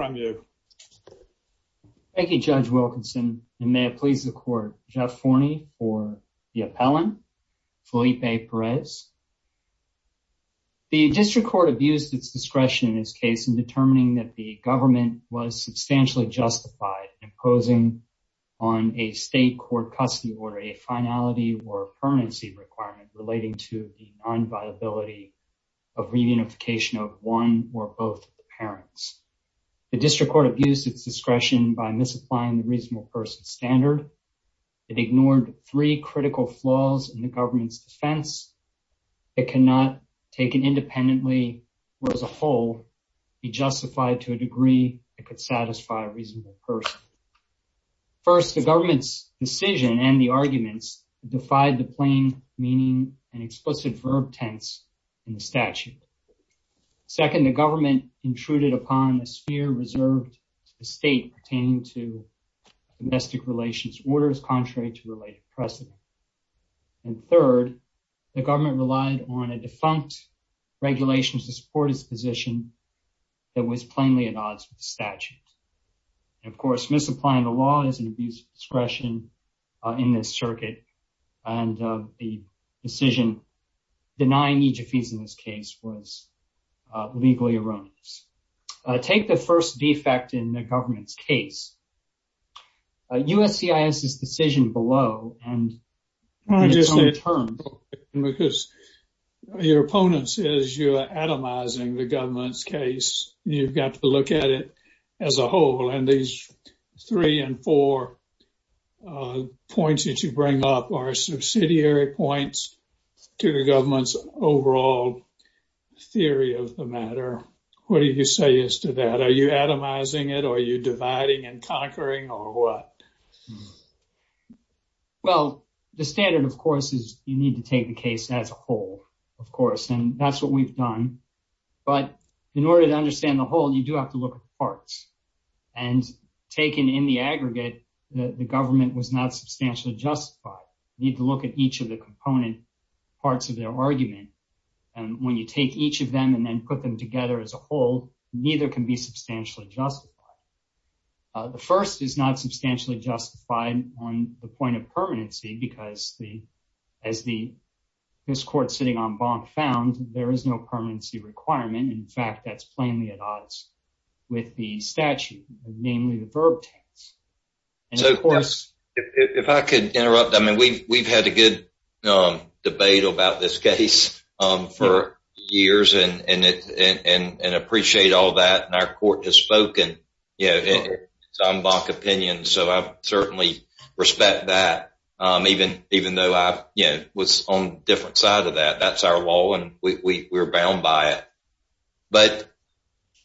The District Court abused its discretion in this case in determining that the government was substantially justified in imposing on a state court custody order a finality or discretion by misapplying the reasonable person standard. It ignored three critical flaws in the government's defense that cannot, taken independently or as a whole, be justified to a degree that could satisfy a reasonable person. First, the government's decision and the arguments defied the plain meaning and explicit verb tense in the statute. Second, the government intruded upon a sphere reserved to the state pertaining to domestic relations orders contrary to related precedent. And third, the government relied on a defunct regulation to support its position that was plainly at odds with the statute. Of course, misapplying the law is an abuse of discretion in this circuit, and the decision denying each of these in this case was legally erroneous. Take the first defect in the government's case. USCIS's decision below and in its own terms... I just want to say a little bit because your opponents, as you are atomizing the government's case, you've got to look at it as a whole. And these three and four points that you bring up are subsidiary points to the government's overall theory of the matter. What do you say as to that? Are you atomizing it, or are you dividing and conquering, or what? Well, the standard, of course, is you need to take the case as a whole, of course, and that's what we've done. But in order to understand the whole, you do have to look at the parts. And taken in the aggregate, the government was not substantially justified. You need to look at each of the component parts of their argument. And when you take each of them and then put them together as a whole, neither can be substantially justified. The first is not substantially justified on the point of permanency, because as this court sitting on bond found, there is no permanency requirement. In fact, that's plainly at odds with the statute, namely the verb tense. So, of course, if I could interrupt. I mean, we've had a good debate about this case for years and appreciate all that. And our court has spoken, you know, en banc opinion. So I certainly respect that, even though I was on a different side of that. That's our law, and we're bound by it. But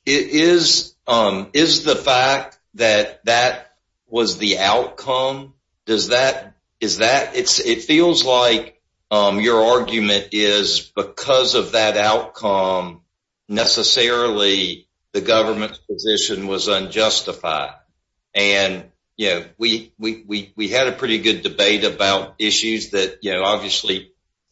is the fact that that was the outcome, it feels like your argument is because of that outcome, necessarily the government's position was unjustified. And, you know, we had a pretty good debate about issues that, you know,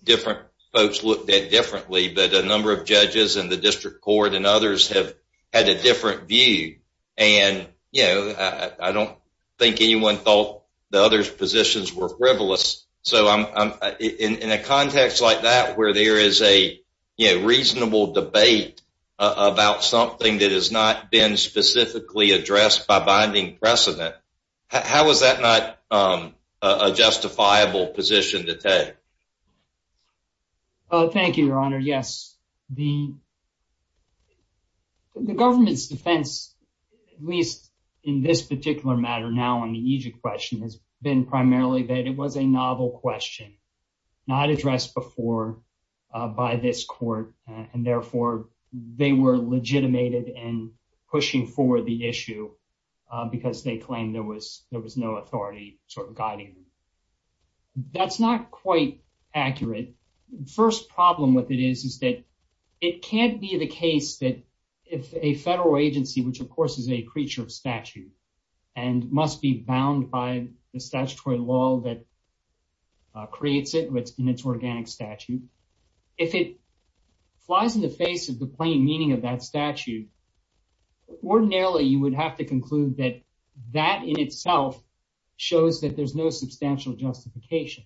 different folks looked at differently. But a number of judges in the district court and others have had a different view. And, you know, I don't think anyone thought the other positions were frivolous. So in a context like that, where there is a reasonable debate about something that has not been specifically addressed by binding precedent, how is that not a justifiable position to take? Thank you, Your Honor. Yes, the government's defense, at least in this particular matter, now on the Egypt question has been primarily that it was a novel question, not addressed before by this court. And therefore, they were legitimated and pushing for the issue because they claimed there was no authority sort of guiding them. That's not quite accurate. First problem with it is that it can't be the case that if a federal agency, which of course is a creature of statute, and must be bound by the statutory law that creates it in its organic statute, if it flies in the face of the plain meaning of that statute, ordinarily you would have to conclude that that in itself shows that there's no substantial justification,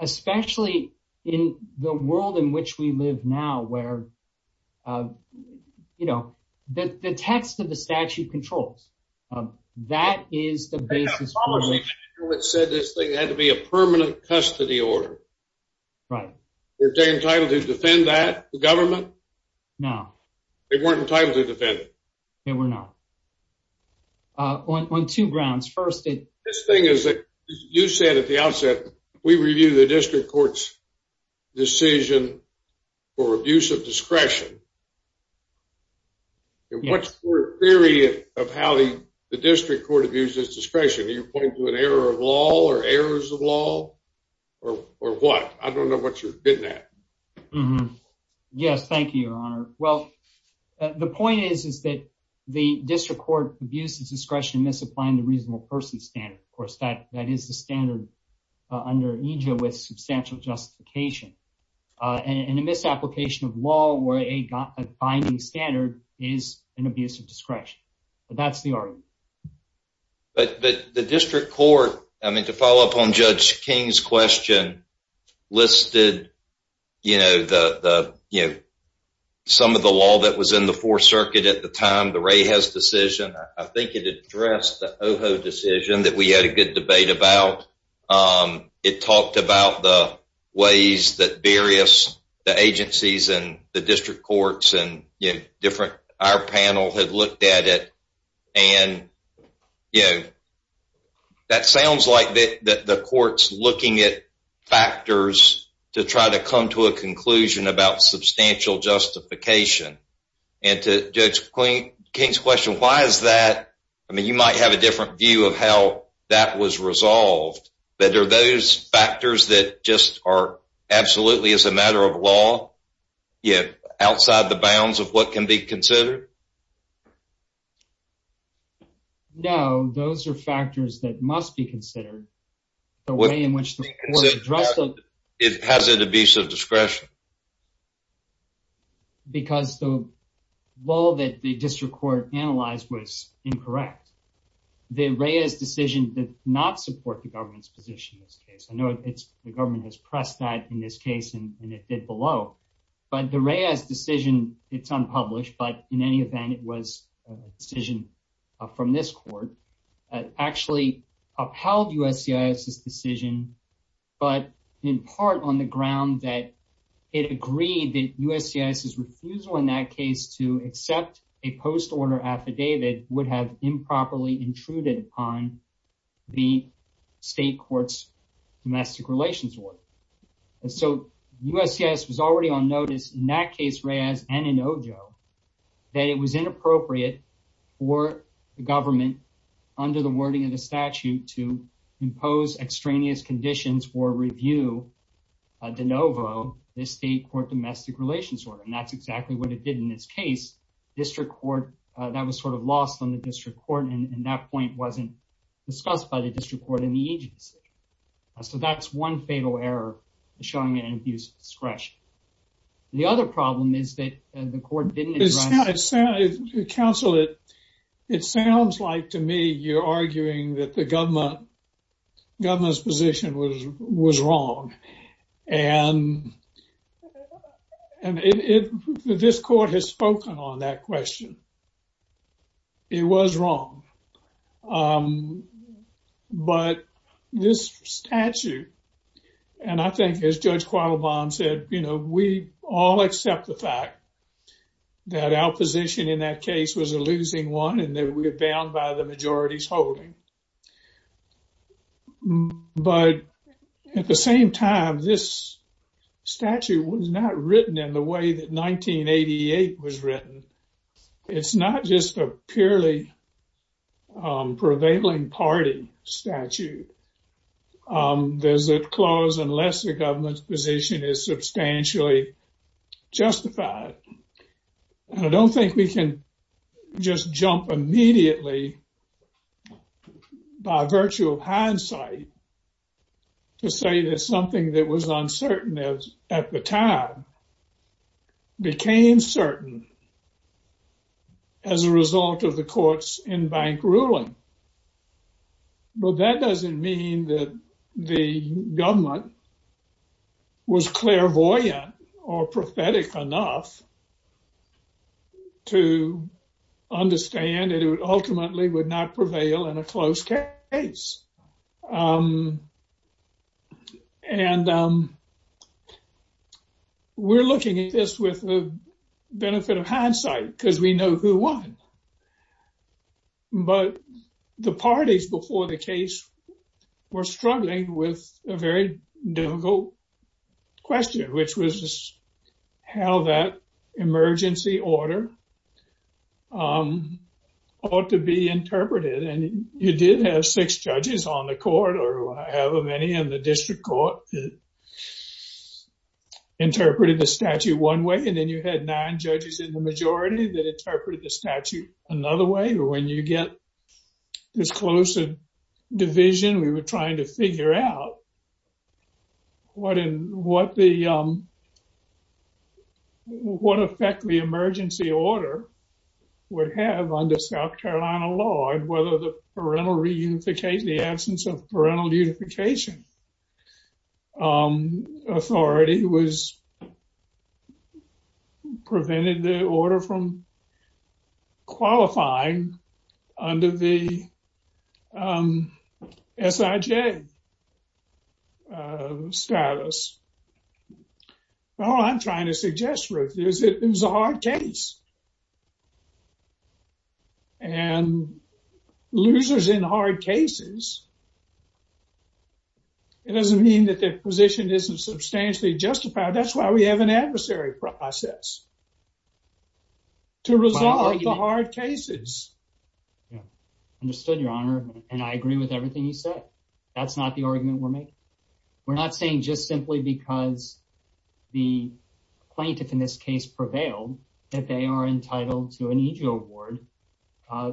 especially in the world in which we live now, where, you know, the text of the statute controls. That is the basis for... It said this thing had to be a permanent custody order. Right. Were they entitled to defend that, the government? No. They weren't entitled to defend it? They were not. On two grounds. First, this thing is that you said at the outset, we review the district court's decision for abuse of discretion. And what's your theory of how the district court abuses discretion? Are you pointing to an error of law or errors of law or what? I don't know what you're getting at. Mm-hmm. Yes. Thank you, Your Honor. Well, the point is, is that the district court abuses discretion misapplying the reasonable person standard. Of course, that is the standard under EJIA with substantial justification. And a misapplication of law or a binding standard is an abuse of discretion. But that's the argument. But the district court, I mean, to follow up on Judge King's question, listed, you know, the, you know, some of the law that was in the Fourth Circuit at the time, the Reyes decision. I think it addressed the Ojo decision that we had a good debate about. It talked about the ways that various agencies and the district courts and, you know, different, our panel had looked at it. And, you know, that sounds like the court's looking at factors to try to come to a conclusion about substantial justification. And to Judge King's question, why is that? I mean, you might have a different view of how that was resolved. But are those factors that just are absolutely as a matter of law, yet outside the bounds of what can be considered? No, those are factors that must be considered. It has an abuse of discretion. Because the law that the district court analyzed was incorrect. The Reyes decision did not support the government's position in this case. I know it's, the government has pressed that in this law. But the Reyes decision, it's unpublished. But in any event, it was a decision from this court that actually upheld USCIS's decision, but in part on the ground that it agreed that USCIS's refusal in that case to accept a post-order affidavit would have improperly intruded upon the state court's domestic relations order. And so USCIS was already on notice in that case, Reyes and in Ojo, that it was inappropriate for the government, under the wording of the statute, to impose extraneous conditions for review de novo, the state court domestic relations order. And that's exactly what it did in this case. District court, that was sort of lost on the district court in the agency. So that's one fatal error, showing an abuse of discretion. The other problem is that the court didn't... Counselor, it sounds like to me you're arguing that the government's position was wrong. And this court has spoken on that question. It was wrong. But this statute, and I think as Judge Quattlebaum said, we all accept the fact that our position in that case was a losing one and that we're bound by the majority's holding. But at the same time, this statute was not written in the way that 1988 was written. It's not just a purely prevailing party statute. There's a clause unless the government's position is substantially justified. And I don't think we can just jump immediately by virtue of hindsight to say that something that was uncertain at the time became certain as a result of the court's in-bank ruling. But that doesn't mean that the government was clairvoyant or prophetic enough to understand it ultimately would not prevail in a closed case. And we're looking at this with the benefit of hindsight because we know who won. But the parties before the case were struggling with a very difficult question, which was how that emergency order ought to be interpreted. And you did have six judges on the court, or I have many in the district court, that interpreted the statute one way. And then had nine judges in the majority that interpreted the statute another way. When you get this close to division, we were trying to figure out what effect the emergency order would have under South Carolina law and whether the absence of parental reunification authority was prevented the order from qualifying under the S.I.J. status. All I'm trying to suggest, Ruth, is it was a hard case. And losers in hard cases, it doesn't mean that their position isn't substantially justified. That's why we have an adversary process to resolve the hard cases. Understood, Your Honor. And I agree with everything you said. That's not the argument we're making. We're not saying just simply because the plaintiff in this case prevailed that they are entitled to an EJ award.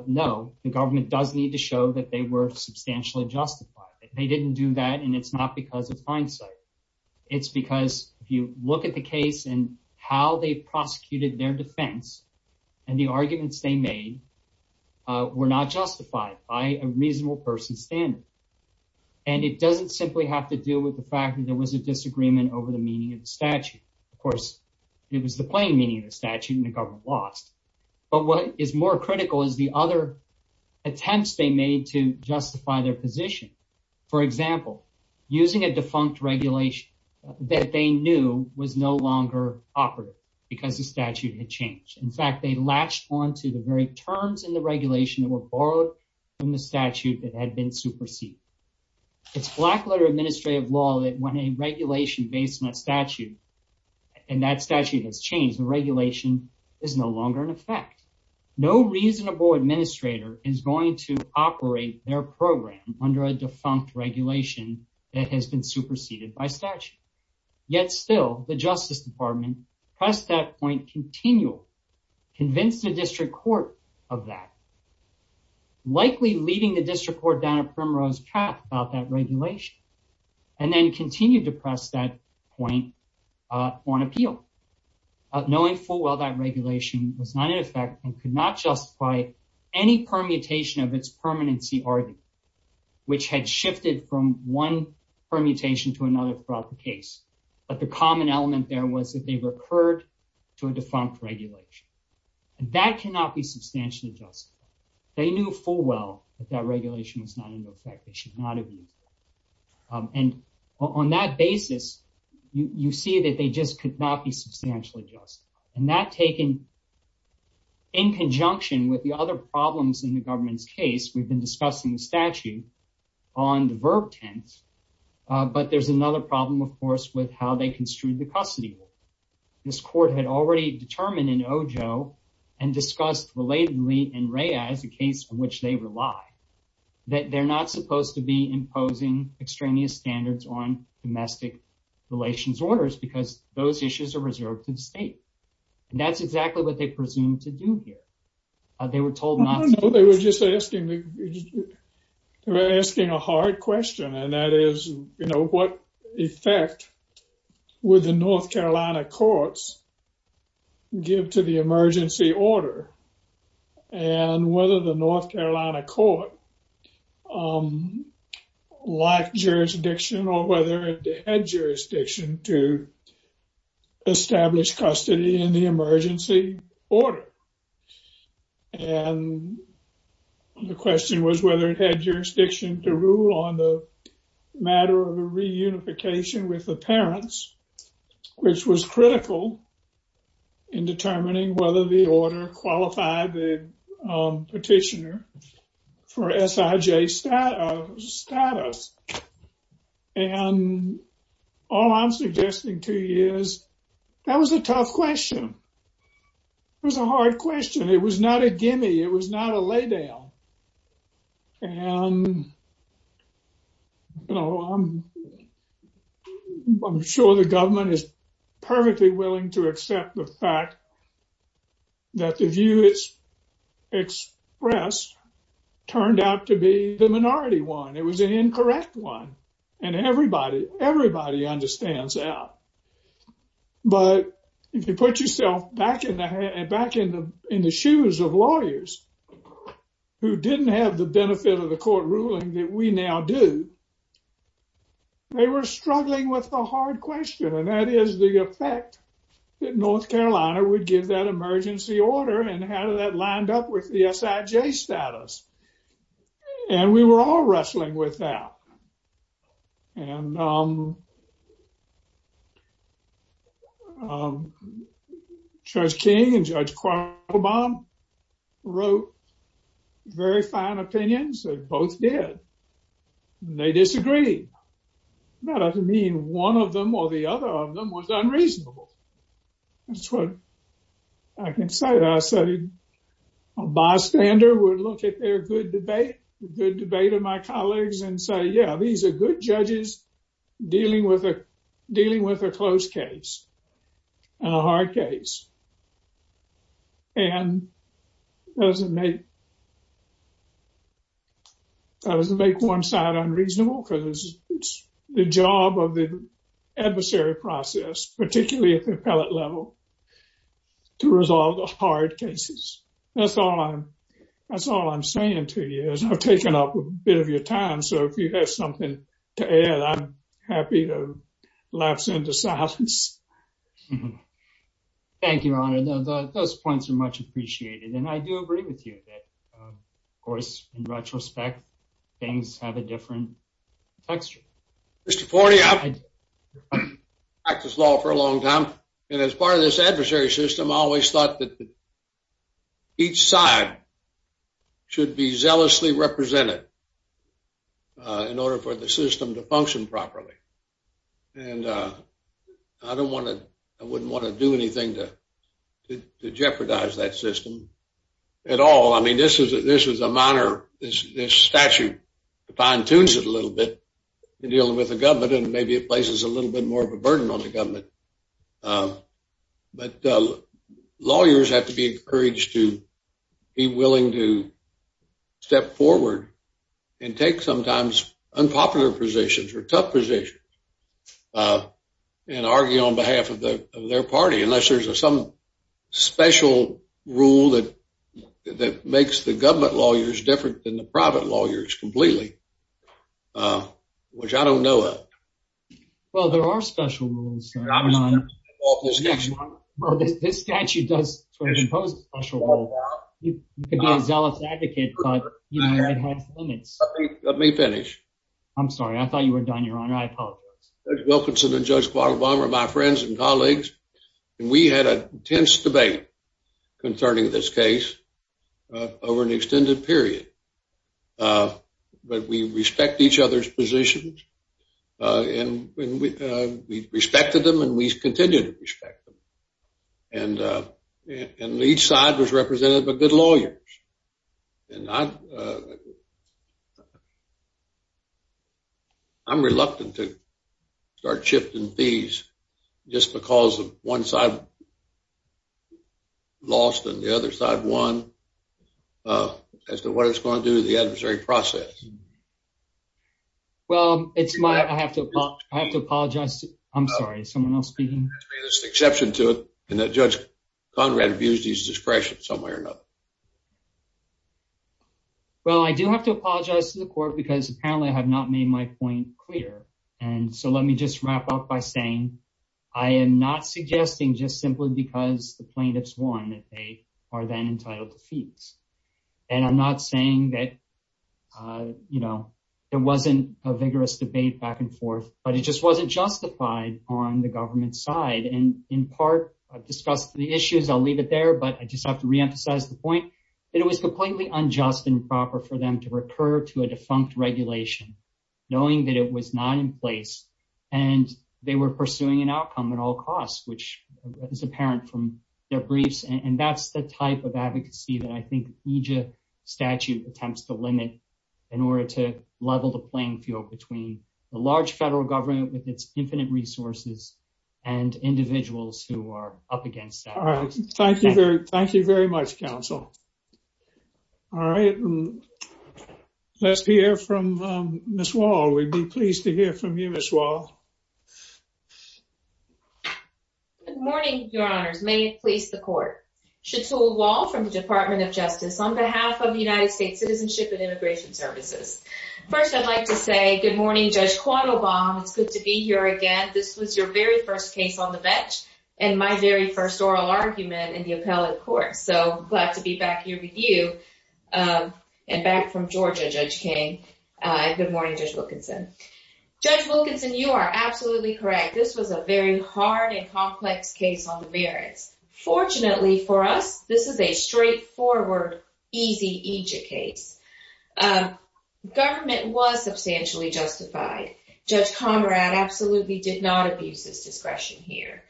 No, the government does need to show that they were substantially justified. They didn't do that, and it's not because of hindsight. It's because if you look at the case and how they prosecuted their defense and the arguments they made were not justified by a reasonable person's standard. And it doesn't simply have to deal with the fact that there was a disagreement over the meaning of the statute. Of course, it was the plain meaning of the statute, and the government lost. But what is more critical is the other they made to justify their position. For example, using a defunct regulation that they knew was no longer operative because the statute had changed. In fact, they latched onto the very terms in the regulation that were borrowed from the statute that had been superseded. It's black letter administrative law that when a regulation based on a statute and that statute has changed, the reasonable administrator is going to operate their program under a defunct regulation that has been superseded by statute. Yet still, the Justice Department pressed that point continual, convinced the district court of that, likely leading the district court down a primrose path about that regulation, and then continued to press that point on appeal. Knowing full well that regulation was not in effect and could not justify any permutation of its permanency argument, which had shifted from one permutation to another throughout the case. But the common element there was that they recurred to a defunct regulation. And that cannot be substantially justified. They knew full well that that regulation was not in effect, they should not have used it. And on that basis, you see that they just could not be substantially justified. And that taken in conjunction with the other problems in the government's case, we've been discussing the statute on the verb tense. But there's another problem, of course, with how they construed the custody. This court had already determined in OJO and discussed relatedly in RAIA as a case in which they rely, that they're not supposed to be imposing extraneous standards on domestic relations orders, because those issues are reserved to the state. And that's exactly what they presumed to do here. They were told not to. They were just asking a hard question. And that is, you know, what effect would the North Carolina courts give to the emergency order? And whether the North Carolina court lacked jurisdiction or whether they had jurisdiction to establish custody in the emergency order. And the question was whether it had jurisdiction to rule on the matter of a reunification with the parents, which was critical in determining whether the order qualified the petitioner for SIJ status. And all I'm suggesting to you is that was a tough question. It was a hard question. It was not a gimme. It was not a lay down. And, you know, I'm perfectly willing to accept the fact that the view is expressed turned out to be the minority one. It was an incorrect one. And everybody understands that. But if you put yourself back in the shoes of lawyers who didn't have the benefit of the court ruling that we now do, they were struggling with the hard question. And that is the effect that North Carolina would give that emergency order and how did that lined up with the SIJ status. And we were all wrestling with that. And Judge King and Judge Quartlebaum wrote very fine opinions. They both did. They disagreed. That doesn't mean one of them or the other of them was unreasonable. That's what I can say. I said a bystander would look at their good debate, the good debate of my colleagues and say, yeah, these are good judges dealing with a close case and a hard case. And that doesn't make one side unreasonable because it's the job of the adversary process, particularly at the appellate level, to resolve the hard cases. That's all I'm saying to you is taking up a bit of your time. So if you have something to add, I'm happy to lapse into silence. Thank you, Your Honor. Those points are much appreciated. And I do agree with you that, of course, in retrospect, things have a different texture. Mr. Forte, I've practiced law for a long time. And as part of this adversary system, I always thought that each side should be zealously represented in order for the system to function properly. And I don't want to, I wouldn't want to do anything to jeopardize that system at all. I mean, this is a minor, this statute fine tunes it a little bit in dealing with the government, and maybe it places a little bit more of a burden on the government. But lawyers have to be encouraged to be willing to step forward and take sometimes unpopular positions or tough positions and argue on behalf of their party, unless there's some special rule that makes the government lawyers different than the private lawyers completely, uh, which I don't know of. Well, there are special rules. This statute does impose a special rule. You could be a zealous advocate, but it has limits. Let me finish. I'm sorry. I thought you were done, Your Honor. I apologize. Judge Wilkinson and Judge Quattlebaum are my friends and colleagues. And we had an intense debate concerning this case over an extended period. But we respect each other's positions, and we respected them, and we continue to respect them. And each side was represented by good lawyers. And I'm reluctant to start shifting fees just because of one side lost and the other side won as to what it's going to do to the adversary process. Well, it's my... I have to apologize. I'm sorry. Is someone else speaking? There's an exception to it in that Judge Conrad abused his discretion some way or another. Well, I do have to apologize to the court because apparently I have not made my point clear. And so let me just wrap up by saying I am not suggesting just simply because the plaintiffs won that they are then entitled to fees. And I'm not saying that it wasn't a vigorous debate back and forth, but it just wasn't justified on the government side. And in part, I've discussed the issues. I'll leave it there, but I just have to reemphasize the point that it was completely unjust and improper for them to recur to a defunct regulation knowing that it was not in place, and they were pursuing an outcome at all costs, which is apparent from their briefs. And that's the type of advocacy that I think EJIA statute attempts to limit in order to level the playing field between the large federal government with its infinite resources and individuals who are up against that. All right. Thank you very much, counsel. All right. Let's hear from Ms. Wall. We'd be pleased to hear from you, Ms. Wall. Good morning, Your Honors. May it please the court. Chatul Wall from the Department of Justice on behalf of the United States Citizenship and Immigration Services. First, I'd like to say good morning, Judge Quattlebaum. It's good to be here again. This was your very first case on the bench and my very first oral argument in the appellate court. So glad to be back here with you and back from Georgia, Judge King. Good morning, Judge Wilkinson. Judge Wilkinson, you are absolutely correct. This was a very hard and complex case on the merits. Fortunately for us, this is a straightforward, easy EJIA case. Government was substantially justified. Judge Conrad absolutely did not abuse his discretion here.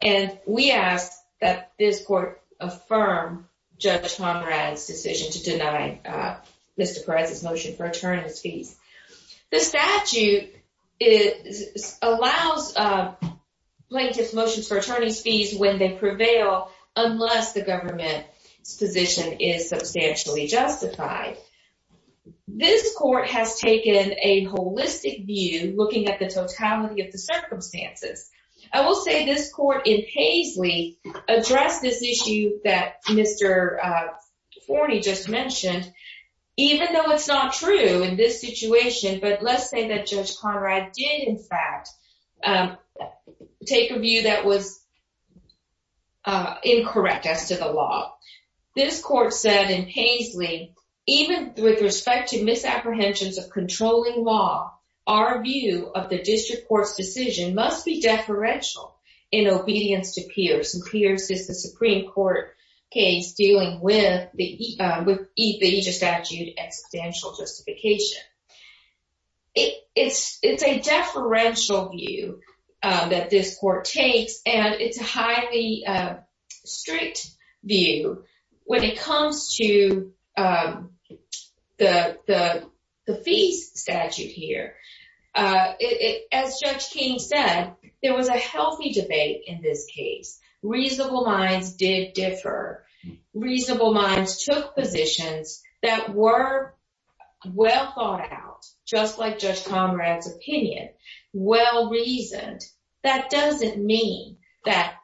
And we ask that this court affirm Judge Conrad's decision to deny Mr. Perez's motion for attorney's fees. The statute allows plaintiff's motions for attorney's fees when they prevail, unless the government's position is substantially justified. This court has taken a holistic view, looking at the totality of the circumstances. I will say this court in Paisley addressed this issue that Mr. Forney just mentioned, even though it's not true in this situation. But let's say that Judge Conrad did in fact take a view that was incorrect as to the law. This court said in Paisley, even with respect to misapprehensions of controlling law, our view of the district court's decision must be deferential in obedience to Pierce. And Pierce is the Supreme Court case dealing with the EJIA statute and substantial justification. It's a deferential view that this court takes, and it's a highly strict view when it comes to the fees statute here. As Judge King said, there was a healthy debate in this case. Reasonable minds did differ. Reasonable minds took positions that were well thought out, just like Judge Conrad's opinion, well reasoned. That doesn't mean that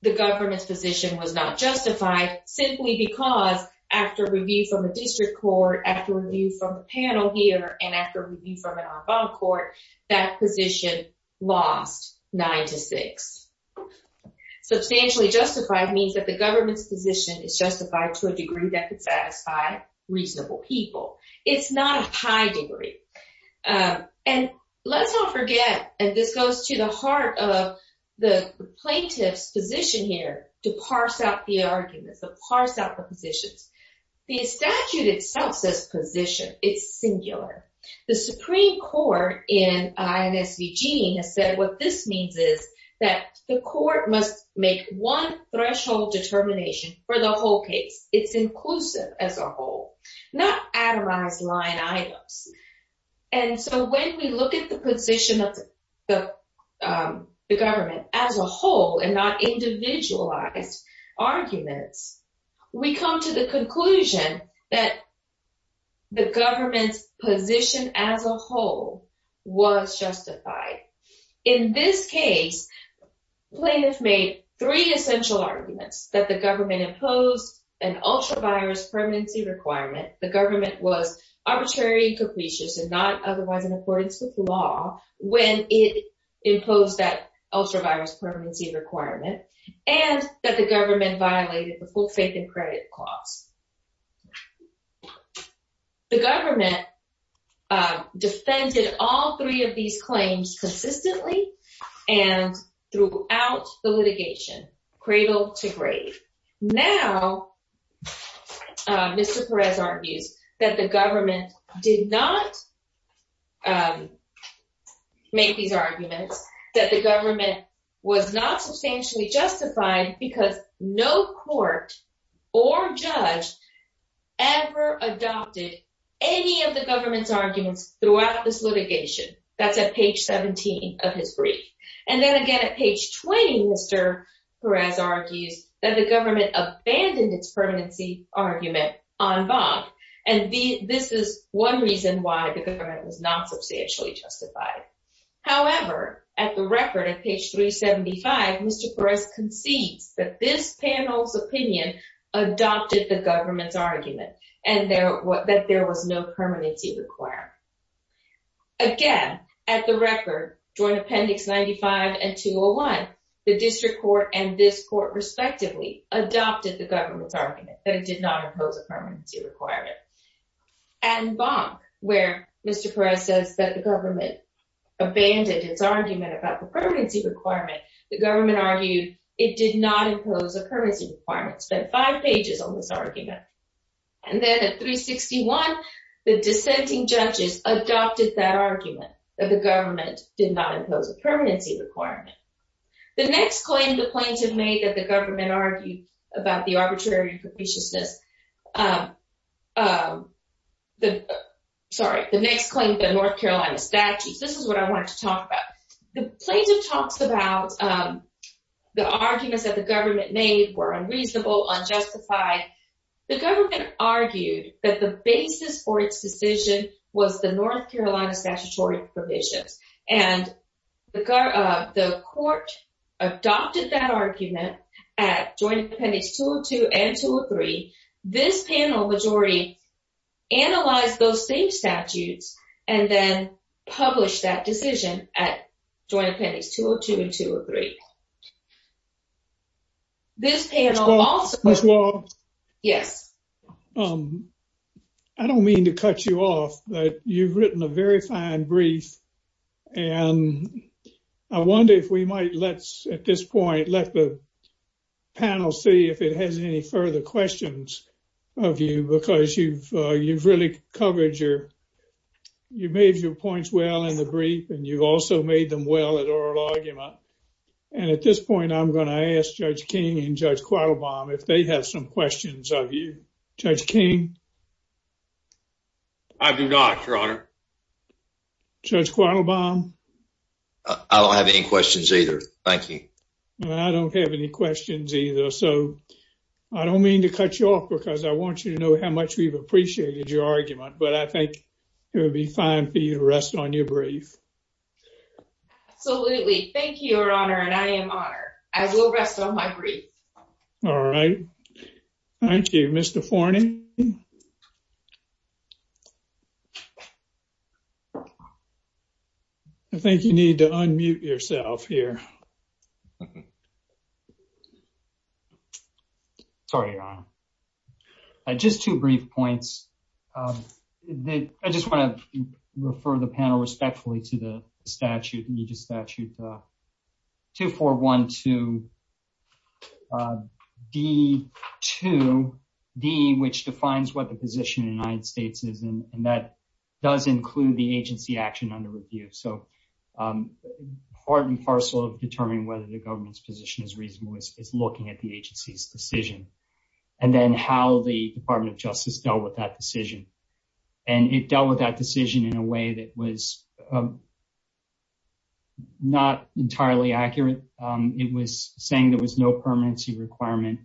the government's position was not justified, simply because after review from the district court, after review from the panel here, and after review from an en banc court, that position lost nine to six. Substantially justified means that the government's position is justified to a degree that could satisfy reasonable people. It's not a high degree. And let's not forget, and this goes to the heart of the plaintiff's position here, to parse out the arguments, to parse out the positions. The statute itself says position. It's singular. The Supreme Court in INSVG has said what this must make one threshold determination for the whole case. It's inclusive as a whole, not atomized line items. And so when we look at the position of the government as a whole, and not individualized arguments, we come to the conclusion that the government's position as a three essential arguments, that the government imposed an ultra virus permanency requirement, the government was arbitrary and capricious and not otherwise in accordance with law, when it imposed that ultra virus permanency requirement, and that the government violated the full faith and credit clause. The government defended all three of these claims consistently, and throughout the litigation, cradle to grave. Now, Mr. Perez argues that the government did not make these arguments, that the government was not substantially justified because no court or judge ever adopted any of the government's arguments throughout this litigation. That's at page 17 of his brief. And then again, at page 20, Mr. Perez argues that the government abandoned its permanency argument en banc. And this is one reason why the government was not substantially justified. However, at the record at page 375, Mr. Perez concedes that this panel's opinion adopted the government's argument, and that there was no permanency requirement. Again, at the record, joint appendix 95 and 201, the district court and this court respectively adopted the government's argument that it did not impose a permanency requirement. En banc, where Mr. Perez says that the government abandoned its argument about the permanency requirement, the government argued it did not impose a permanency requirement. Spent five The dissenting judges adopted that argument, that the government did not impose a permanency requirement. The next claim the plaintiff made that the government argued about the arbitrary and capriciousness, sorry, the next claim, the North Carolina statutes, this is what I wanted to talk about. The plaintiff talks about the arguments that the government made were the basis for its decision was the North Carolina statutory provisions. And the court adopted that argument at joint appendix 202 and 203. This panel majority analyzed those same statutes and then published that decision at joint appendix 202 and 203. Ms. Wall, I don't mean to cut you off, but you've written a very fine brief and I wonder if we might let's, at this point, let the panel see if it has any further questions of you because you've really covered your, you made your points well in the brief and you also made them well at oral argument. And at this point I'm going to ask Judge King and Judge Quattlebaum if they have some questions of you. Judge King? I do not, your honor. Judge Quattlebaum? I don't have any questions either, thank you. I don't have any questions either, so I don't mean to cut you off because I want you to know how much we've appreciated your argument, but I think it would be fine for you to rest on your brief. Absolutely, thank you, your honor, and I am honored. I will rest on my brief. All right, thank you. Mr. Forney? I think you need to unmute yourself here. Okay. Sorry, your honor. Just two brief points. I just want to refer the panel respectfully to the statute, Agenda Statute 2412D2D, which defines what the position of the United States is and that does include the agency action under review. So part and parcel of determining whether the government's position is reasonable is looking at the agency's decision and then how the Department of Justice dealt with that decision. And it dealt with that decision in a way that was not entirely accurate. It was saying there was no permanency requirement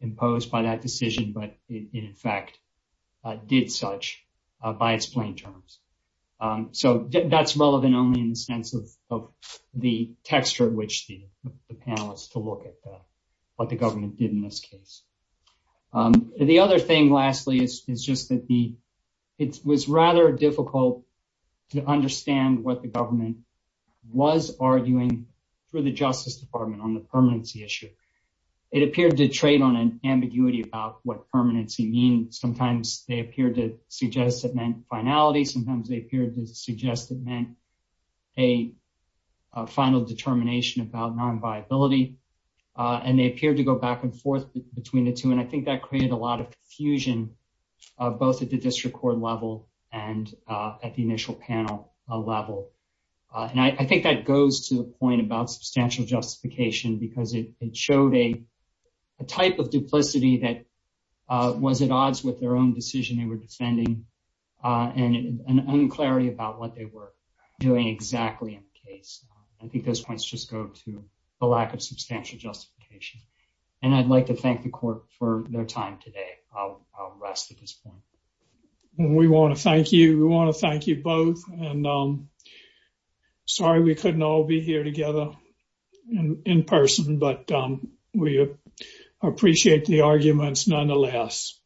imposed by that decision, but it, in fact, did such by its plain terms. So that's relevant only in the sense of the texture at which the panelists to look at what the government did in this case. The other thing, lastly, is just that it was rather difficult to understand what the government was arguing for the Justice Department on the permanency issue. It appeared to trade on an permanency mean. Sometimes they appeared to suggest it meant finality. Sometimes they appeared to suggest it meant a final determination about non-viability. And they appeared to go back and forth between the two. And I think that created a lot of confusion, both at the district court level and at the initial panel level. And I think that goes to the point about substantial justification because it showed a type of duplicity that was at odds with their own decision they were defending and an unclarity about what they were doing exactly in the case. I think those points just go to the lack of substantial justification. And I'd like to thank the court for their time today. I'll rest at this point. We want to thank you. We want to thank you in person, but we appreciate the arguments nonetheless.